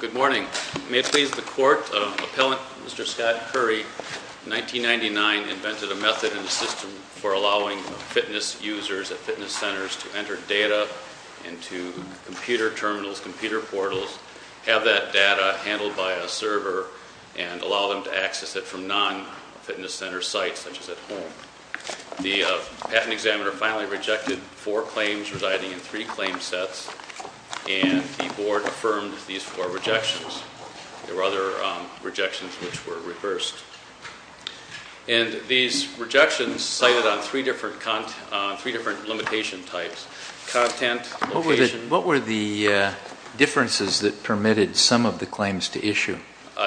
Good morning. May it please the court, Mr. Scott Curry, 1999, invented a method in the system for allowing fitness users at fitness centers to enter data into computer terminals, computer portals, have that data handled by a server, and allow them to access it from non-fitness center sites such as at home. The patent examiner finally rejected four claims residing in three claim sets, and the board affirmed these four rejections. There were other rejections which were reversed. And these rejections cited on three different content, three different limitation types, content, location. What were the differences that permitted some of the claims to issue?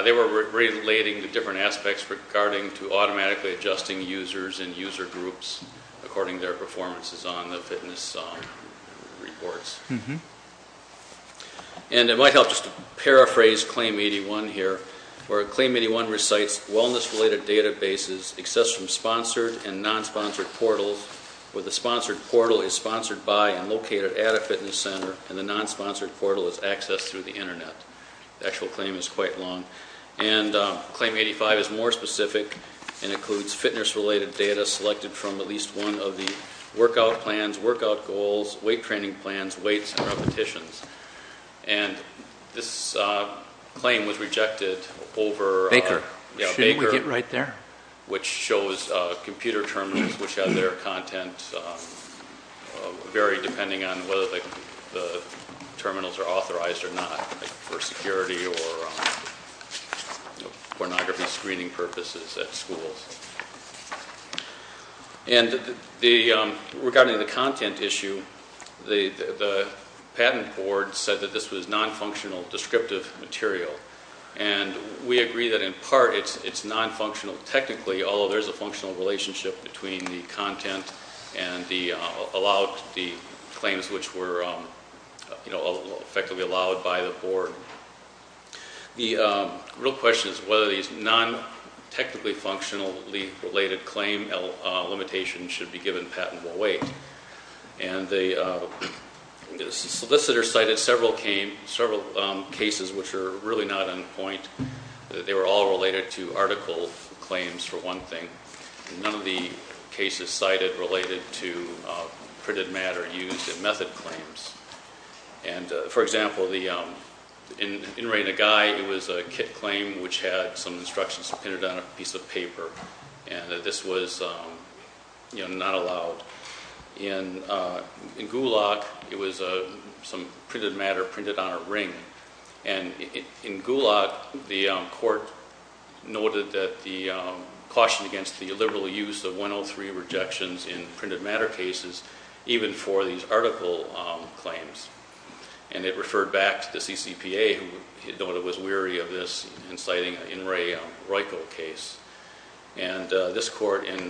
They were relating to different aspects regarding to automatically adjusting users and user groups according to their performances on the fitness reports. And it might help just to paraphrase Claim 81 here, where Claim 81 recites wellness-related databases accessed from sponsored and non-sponsored portals, where the sponsored portal is sponsored by and located at a fitness center, and the non-sponsored portal is accessed through the internet. The actual claim is quite long. And Claim 85 is more specific and includes fitness-related data selected from at least one of the workout plans, workout goals, weight training plans, weights, and repetitions. And this claim was rejected over Baker, which shows computer terminals which have their content varied depending on whether the terminals are authorized or not, like for security or pornography screening purposes at schools. And regarding the content issue, the patent board said that this was non-functional descriptive material. And we agree that in part it's non-functional technically, although there's a functional relationship between the content and the claims which were effectively allowed by the board. The real question is whether these non-technically functionally related claim limitations should be given patentable weight. And the solicitor cited several cases which are really not on point. They were all related to article claims for one thing. None of the cases cited related to printed matter used in method claims. For example, in Raina Gai, it was a kit claim which had some instructions printed on a piece of paper and this was not allowed. In Gulak, it was some printed matter printed on a ring. And in Gulak, the court noted that the caution against the illiberal use of 103 rejections in printed matter cases, even for these article claims. And it referred back to the CCPA, who was weary of this inciting in Ray Royko case. And this court, in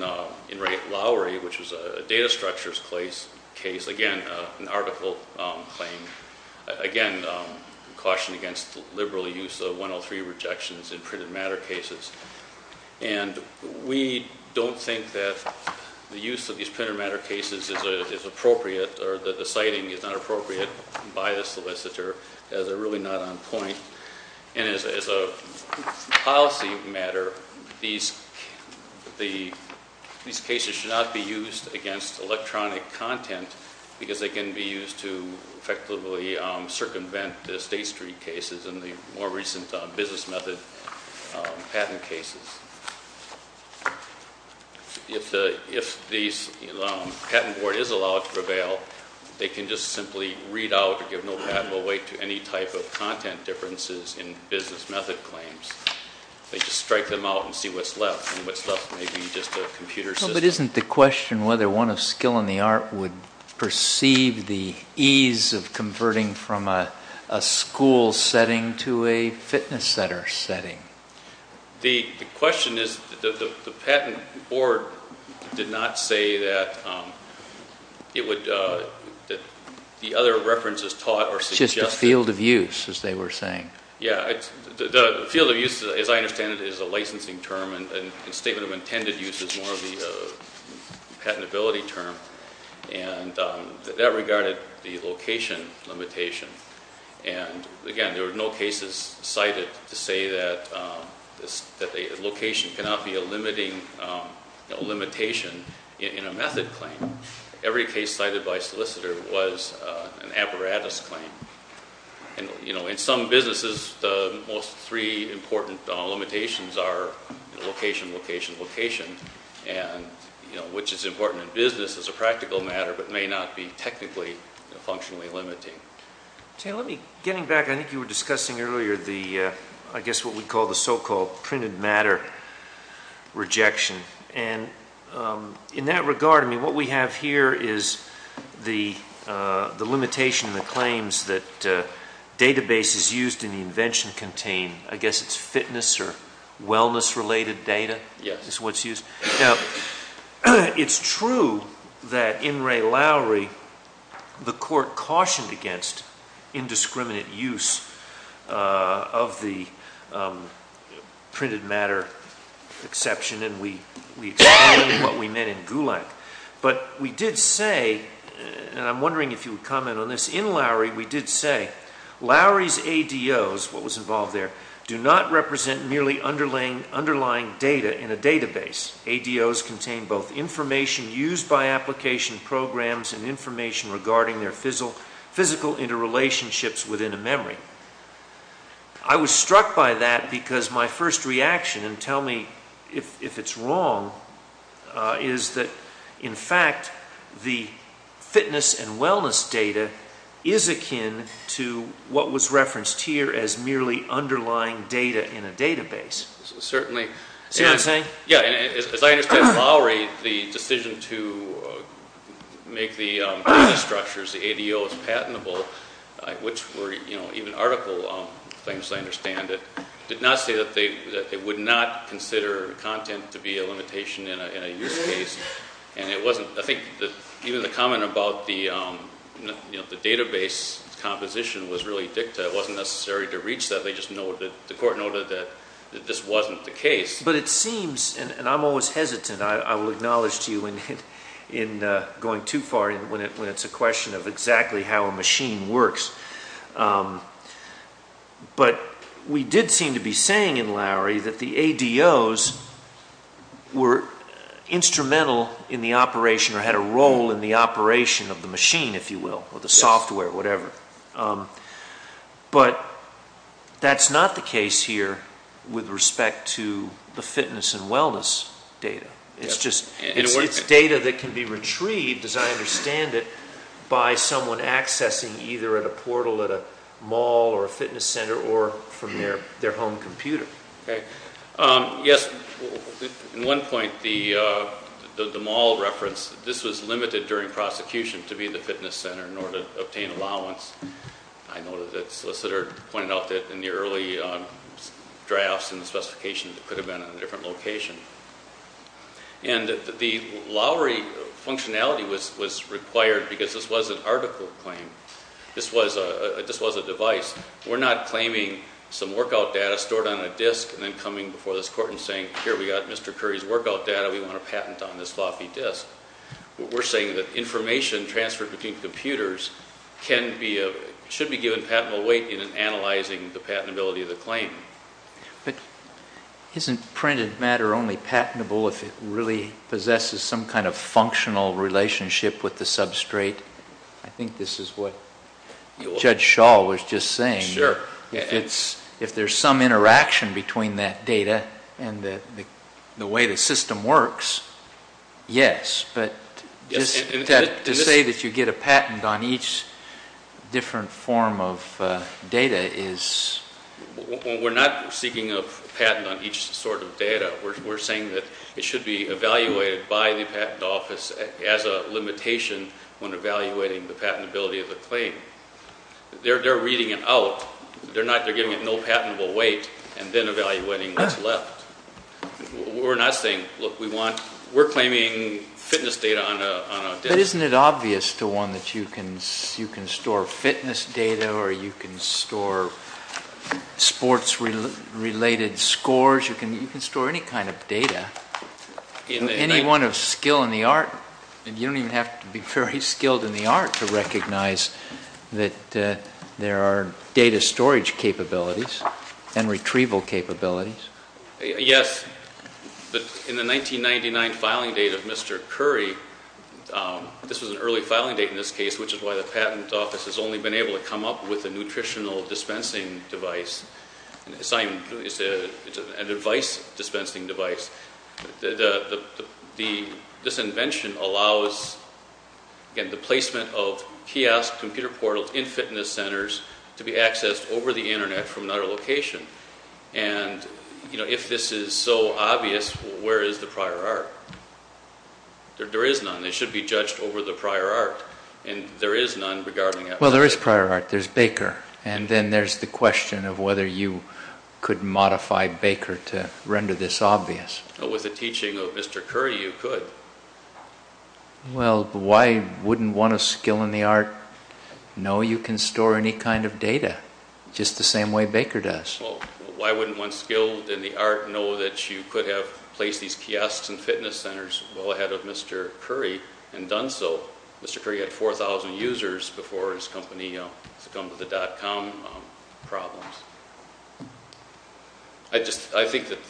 Ray Lowry, which was a data structures case, again, an article claim. Again, caution against the liberal use of 103 rejections in printed matter cases. And we don't think that the use of these printed matter cases is appropriate or that the citing is not appropriate by the solicitor as they're really not on point. And as a policy matter, these cases should not be used against electronic content because they can be used to effectively circumvent the State Street cases and the more recent business method patent cases. If the patent board is allowed to prevail, they can just simply read out or give no patent away to any type of content differences in business method claims. They just strike them out and see what's left and what's left may be just a computer system. But isn't the question whether one of skill and the art would perceive the ease of converting from a school setting to a fitness center setting? The question is, the patent board did not say that the other references taught or suggested. Just the field of use, as they were saying. Yeah, the field of use, as I understand it, is a licensing term. And statement of intended use is more of the patentability term. And that regarded the location limitation. And again, there were no cases cited to say that a location cannot be a limitation in a method claim. Every case cited by a solicitor was an apparatus claim. And, you know, in some businesses, the most three important limitations are location, location, location. And, you know, which is important in business as a practical matter but may not be technically functionally limiting. Jay, let me, getting back, I think you were discussing earlier the, I guess what we call the so-called printed matter rejection. And in that regard, I mean, what we have here is the limitation in the claims that databases used in the invention contain, I guess it's fitness or wellness-related data is what's used. Yes. Now, it's true that in Ray Lowry, the court cautioned against indiscriminate use of the printed matter exception. And we explained what we meant in Gulack. But we did say, and I'm wondering if you would comment on this, in Lowry we did say, Lowry's ADOs, what was involved there, do not represent merely underlying data in a database. ADOs contain both information used by application programs and information regarding their physical interrelationships within a memory. I was struck by that because my first reaction, and tell me if it's wrong, is that, in fact, the fitness and wellness data is akin to what was referenced here as merely underlying data in a database. Certainly. Yeah, and as I understand, Lowry, the decision to make the data structures, the ADOs, patentable, which were, you know, even article claims, I understand it, did not say that they would not consider content to be a limitation in a use case. And it wasn't, I think, even the comment about the database composition was really dicta. It wasn't necessary to reach that. They just noted, the court noted that this wasn't the case. But it seems, and I'm always hesitant, I will acknowledge to you in going too far when it's a question of exactly how a machine works, but we did seem to be saying in Lowry that the ADOs were instrumental in the operation or had a role in the operation of the machine, if you will, or the software, whatever. But that's not the case here with respect to the fitness and wellness data. It's just, it's data that can be retrieved, as I understand it, by someone accessing either at a portal at a mall or a fitness center or from their home computer. Yes, in one point, the mall reference, this was limited during prosecution to be the fitness center in order to obtain allowance. I noted that the solicitor pointed out that in the early drafts and the specifications, it could have been in a different location. And the Lowry functionality was required because this was an article claim. This was a device. We're not claiming some workout data stored on a disk and then coming before this court and saying, here we got Mr. Curry's workout data, we want to patent on this fluffy disk. We're saying that information transferred between computers can be, should be given patentable weight in analyzing the patentability of the claim. But isn't printed matter only patentable if it really possesses some kind of functional relationship with the substrate? I think this is what Judge Shaw was just saying. If there's some interaction between that data and the way the system works, yes. But just to say that you get a patent on each different form of data is. We're not seeking a patent on each sort of data. We're saying that it should be evaluated by the patent office as a limitation when evaluating the patentability of the claim. They're reading it out. They're giving it no patentable weight and then evaluating what's left. We're not saying, look, we want, we're claiming fitness data on a disk. But isn't it obvious to one that you can store fitness data or you can store sports related scores? You can store any kind of data. Anyone of skill in the art, you don't even have to be very skilled in the art to recognize that there are data storage capabilities and retrieval capabilities. Yes. But in the 1999 filing date of Mr. Curry, this was an early filing date in this case, which is why the patent office has only been able to come up with a nutritional dispensing device. It's a device dispensing device. This invention allows the placement of kiosk computer portals in fitness centers to be accessed over the Internet from another location. And, you know, if this is so obvious, where is the prior art? There is none. It should be judged over the prior art. And there is none regarding that. Well, there is prior art. There's Baker. And then there's the question of whether you could modify Baker to render this obvious. With the teaching of Mr. Curry, you could. Well, why wouldn't one of skill in the art know you can store any kind of data just the same way Baker does? Well, why wouldn't one skill in the art know that you could have placed these kiosks and fitness centers well ahead of Mr. Curry and done so? Mr. Curry had 4,000 users before his company succumbed to the dot-com problems. I think that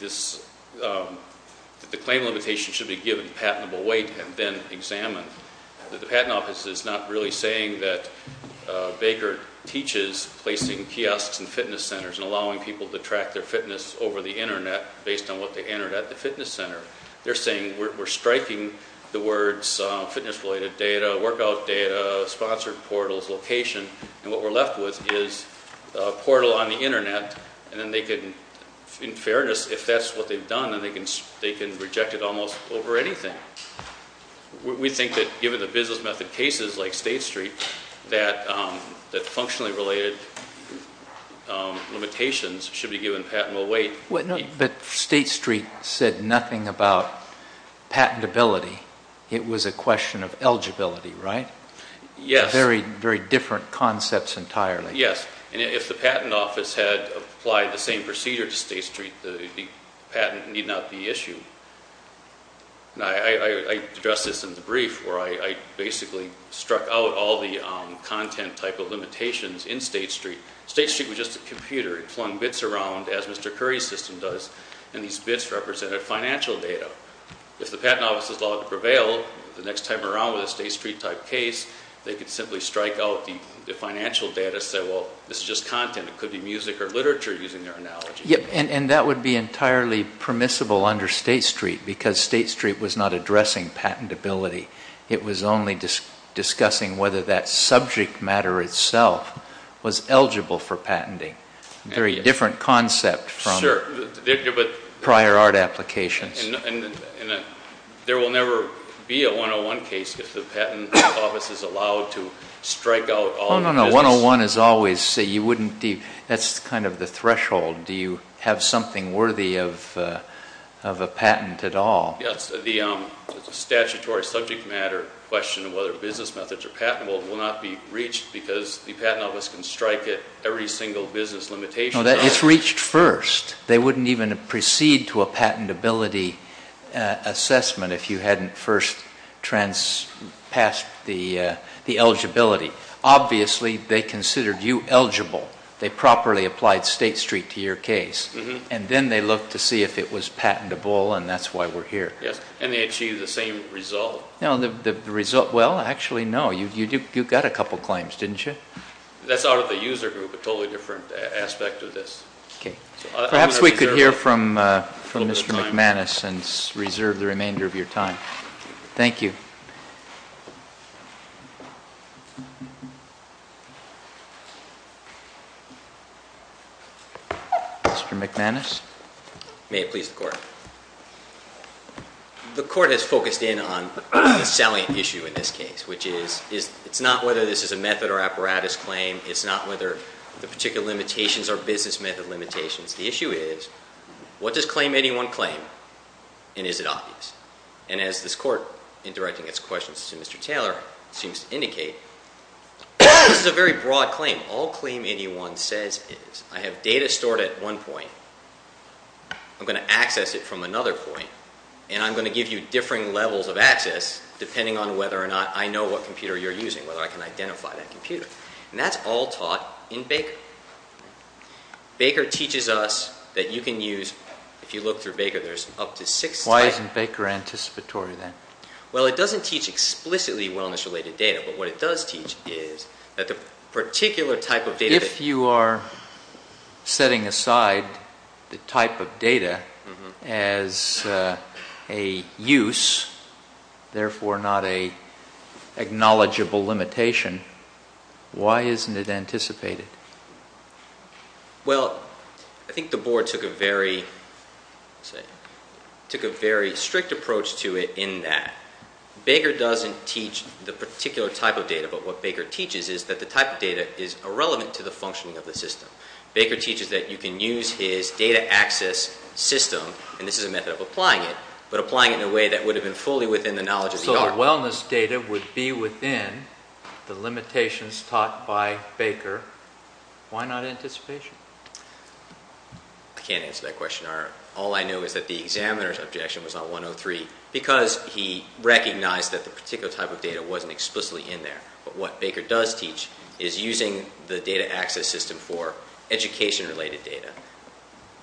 the claim limitation should be given patentable weight and then examined. The patent office is not really saying that Baker teaches placing kiosks and fitness centers and allowing people to track their fitness over the Internet based on what they entered at the fitness center. They're saying we're striking the words fitness-related data, workout data, sponsored portals, location. And what we're left with is a portal on the Internet and then they could, in fairness, if that's what they've done, then they can reject it almost over anything. We think that given the business method cases like State Street, that functionally related limitations should be given patentable weight. But State Street said nothing about patentability. It was a question of eligibility, right? Yes. Very different concepts entirely. Yes. And if the patent office had applied the same procedure to State Street, the patent need not be issued. I addressed this in the brief where I basically struck out all the content type of limitations in State Street. State Street was just a computer. It flung bits around, as Mr. Curry's system does, and these bits represented financial data. If the patent office is allowed to prevail, the next time around with a State Street type case, they could simply strike out the financial data, say, well, this is just content. It could be music or literature, using their analogy. And that would be entirely permissible under State Street because State Street was not addressing patentability. It was only discussing whether that subject matter itself was eligible for patenting. Very different concept from prior art applications. And there will never be a 101 case if the patent office is allowed to strike out all the business. No, no, no. We have something worthy of a patent at all. Yes. The statutory subject matter question of whether business methods are patentable will not be reached because the patent office can strike at every single business limitation. No, it's reached first. They wouldn't even proceed to a patentability assessment if you hadn't first passed the eligibility. Obviously, they considered you eligible. They properly applied State Street to your case. And then they looked to see if it was patentable, and that's why we're here. Yes. And they achieved the same result. No, the result, well, actually, no. You got a couple claims, didn't you? That's out of the user group, a totally different aspect of this. Okay. Perhaps we could hear from Mr. McManus and reserve the remainder of your time. Thank you. Thank you. Mr. McManus. May it please the Court. The Court has focused in on the salient issue in this case, which is it's not whether this is a method or apparatus claim. It's not whether the particular limitations are business method limitations. The issue is what does claim anyone claim, and is it obvious? And as this Court, in directing its questions to Mr. Taylor, seems to indicate, this is a very broad claim. All claim anyone says is I have data stored at one point, I'm going to access it from another point, and I'm going to give you differing levels of access depending on whether or not I know what computer you're using, whether I can identify that computer. And that's all taught in Baker. Baker teaches us that you can use, if you look through Baker, there's up to six slides. Why isn't Baker anticipatory then? Well, it doesn't teach explicitly wellness-related data, but what it does teach is that the particular type of data that If you are setting aside the type of data as a use, therefore not an acknowledgeable limitation, why isn't it anticipated? Well, I think the Board took a very strict approach to it in that Baker doesn't teach the particular type of data, but what Baker teaches is that the type of data is irrelevant to the functioning of the system. Baker teaches that you can use his data access system, and this is a method of applying it, but applying it in a way that would have been fully within the knowledge of the art. If the wellness data would be within the limitations taught by Baker, why not anticipation? I can't answer that question. All I know is that the examiner's objection was on 103 because he recognized that the particular type of data wasn't explicitly in there. But what Baker does teach is using the data access system for education-related data,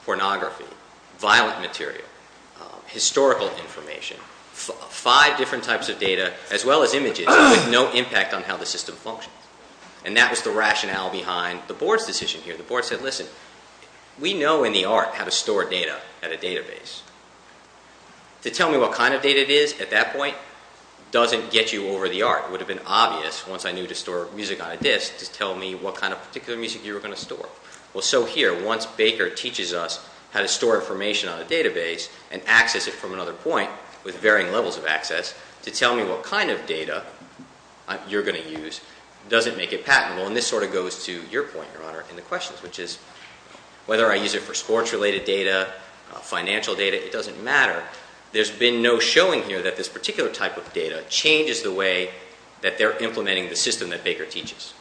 pornography, violent material, historical information, five different types of data as well as images with no impact on how the system functions. And that was the rationale behind the Board's decision here. The Board said, listen, we know in the art how to store data at a database. To tell me what kind of data it is at that point doesn't get you over the art. It would have been obvious once I knew to store music on a disc to tell me what kind of particular music you were going to store. Well, so here, once Baker teaches us how to store information on a database and access it from another point with varying levels of access to tell me what kind of data you're going to use doesn't make it patentable, and this sort of goes to your point, Your Honor, in the questions, which is whether I use it for sports-related data, financial data, it doesn't matter. There's been no showing here that this particular type of data changes the way that they're implementing the system that Baker teaches.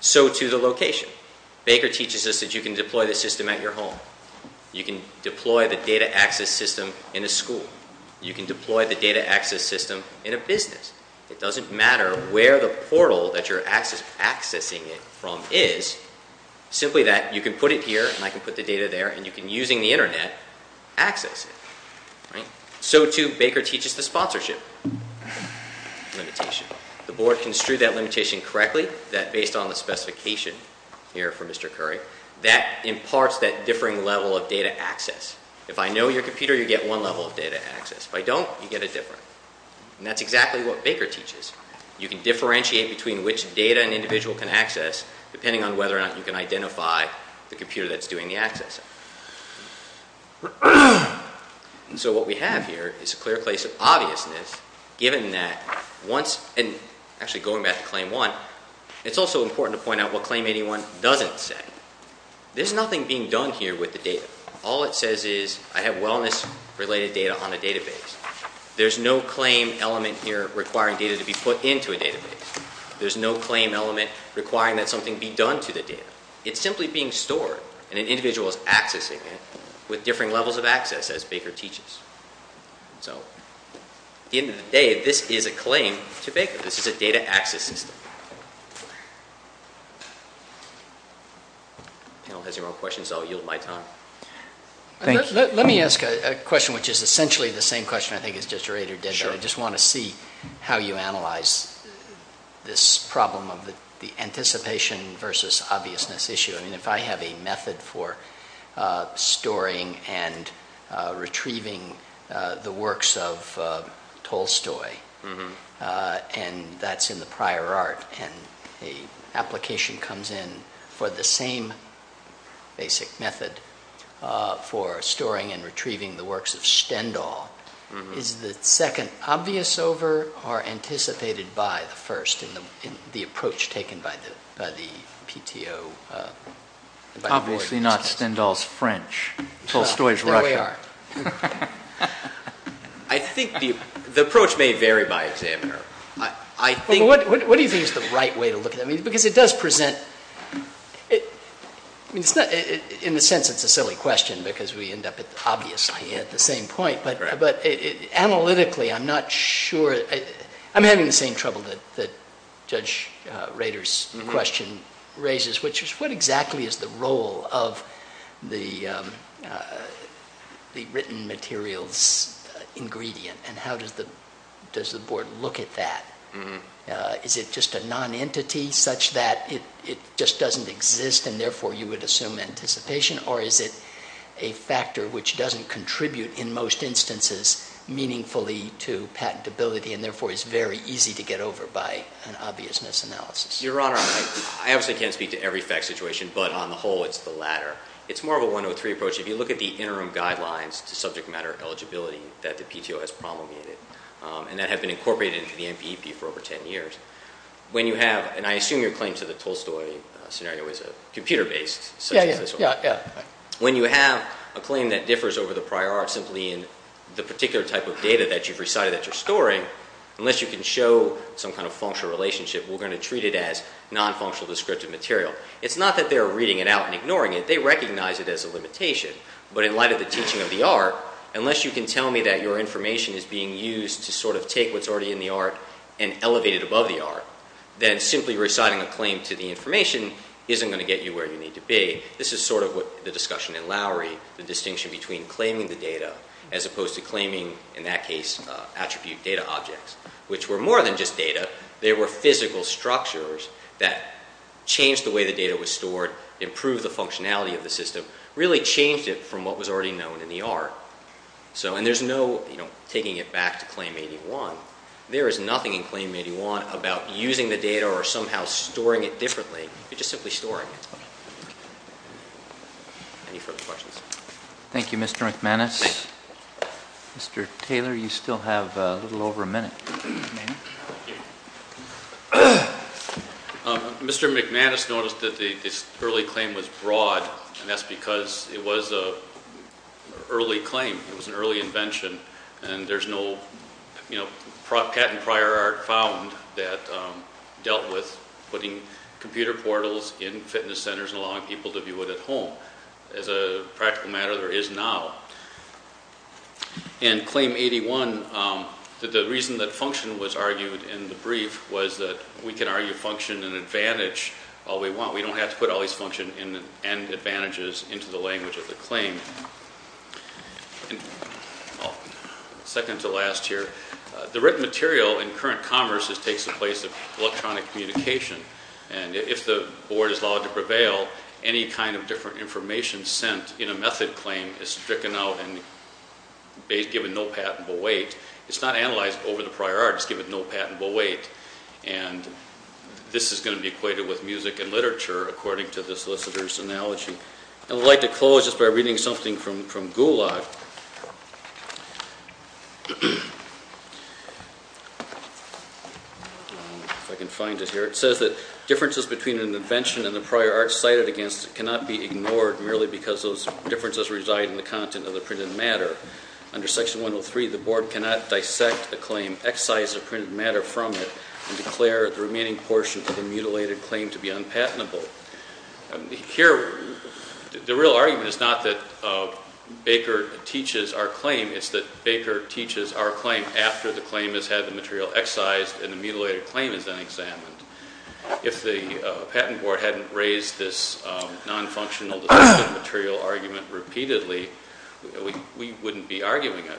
So, too, the location. Baker teaches us that you can deploy the system at your home. You can deploy the data access system in a school. You can deploy the data access system in a business. It doesn't matter where the portal that you're accessing it from is, simply that you can put it here and I can put the data there and you can, using the Internet, access it. So, too, Baker teaches the sponsorship limitation. The board construed that limitation correctly, that based on the specification here for Mr. Curry, that imparts that differing level of data access. If I know your computer, you get one level of data access. If I don't, you get a different. And that's exactly what Baker teaches. You can differentiate between which data an individual can access, depending on whether or not you can identify the computer that's doing the accessing. And so what we have here is a clear case of obviousness, given that once, and actually going back to Claim 1, it's also important to point out what Claim 81 doesn't say. There's nothing being done here with the data. All it says is I have wellness-related data on a database. There's no claim element here requiring data to be put into a database. There's no claim element requiring that something be done to the data. It's simply being stored, and an individual is accessing it, with differing levels of access, as Baker teaches. So, at the end of the day, this is a claim to Baker. This is a data access system. If the panel has any more questions, I'll yield my time. Thank you. Let me ask a question which is essentially the same question, I think, as Justerator did. I just want to see how you analyze this problem of the anticipation versus obviousness issue. I mean, if I have a method for storing and retrieving the works of Tolstoy, and that's in the prior art, and an application comes in for the same basic method for storing and retrieving the works of Stendhal, is the second obvious over or anticipated by the first in the approach taken by the PTO? Obviously not Stendhal's French. Tolstoy's Russian. There we are. I think the approach may vary by examiner. What do you think is the right way to look at it? In a sense, it's a silly question because we end up obviously at the same point. But analytically, I'm not sure. I'm having the same trouble that Judge Rader's question raises, which is what exactly is the role of the written materials ingredient, and how does the Board look at that? Is it just a nonentity such that it just doesn't exist, and therefore you would assume anticipation, or is it a factor which doesn't contribute in most instances meaningfully to patentability and therefore is very easy to get over by an obviousness analysis? Your Honor, I obviously can't speak to every fact situation, but on the whole it's the latter. It's more of a 103 approach. If you look at the interim guidelines to subject matter eligibility that the PTO has promulgated and that have been incorporated into the NBEP for over ten years, when you have, and I assume your claim to the Tolstoy scenario is computer-based, such as this one, when you have a claim that differs over the prior art simply in the particular type of data that you've recited that you're storing, unless you can show some kind of functional relationship, we're going to treat it as non-functional descriptive material. It's not that they're reading it out and ignoring it. They recognize it as a limitation. But in light of the teaching of the art, unless you can tell me that your information is being used to sort of take what's already in the art and elevate it above the art, then simply reciting a claim to the information isn't going to get you where you need to be. This is sort of what the discussion in Lowry, the distinction between claiming the data as opposed to claiming, in that case, attribute data objects, which were more than just data. They were physical structures that changed the way the data was stored, improved the functionality of the system, really changed it from what was already known in the art. And there's no taking it back to Claim 81. There is nothing in Claim 81 about using the data or somehow storing it differently. You're just simply storing it. Any further questions? Thank you, Mr. McManus. Mr. Taylor, you still have a little over a minute. Thank you. Mr. McManus noticed that this early claim was broad, and that's because it was an early claim, it was an early invention, and there's no patent prior art found that dealt with putting computer portals in fitness centers and allowing people to view it at home. As a practical matter, there is now. In Claim 81, the reason that function was argued in the brief was that we can argue function and advantage all we want. We don't have to put all these function and advantages into the language of the claim. Second to last here. The written material in current commerce takes the place of electronic communication, and if the board is allowed to prevail, any kind of different information sent in a method claim is stricken out and given no patentable weight. It's not analyzed over the prior art. It's given no patentable weight, and this is going to be equated with music and literature, according to the solicitor's analogy. I would like to close just by reading something from Gulag. If I can find it here. It says that differences between an invention and the prior art cited against it cannot be ignored merely because those differences reside in the content of the printed matter. Under Section 103, the board cannot dissect a claim, excise the printed matter from it, and declare the remaining portion of the mutilated claim to be unpatentable. Here, the real argument is not that Baker teaches our claim. It's that Baker teaches our claim after the claim has had the material excised and the mutilated claim has been examined. If the patent board hadn't raised this nonfunctional material argument repeatedly, we wouldn't be arguing it.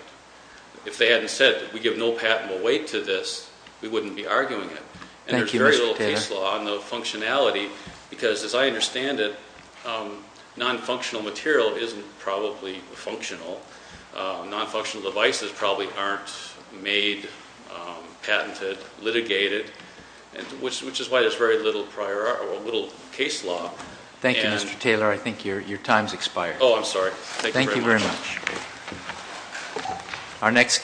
If they hadn't said, we give no patentable weight to this, we wouldn't be arguing it. And there's very little case law on the functionality, because as I understand it, nonfunctional material isn't probably functional. Nonfunctional devices probably aren't made, patented, litigated, which is why there's very little case law. Thank you, Mr. Taylor. I think your time's expired. Oh, I'm sorry. Thank you very much. Thank you very much.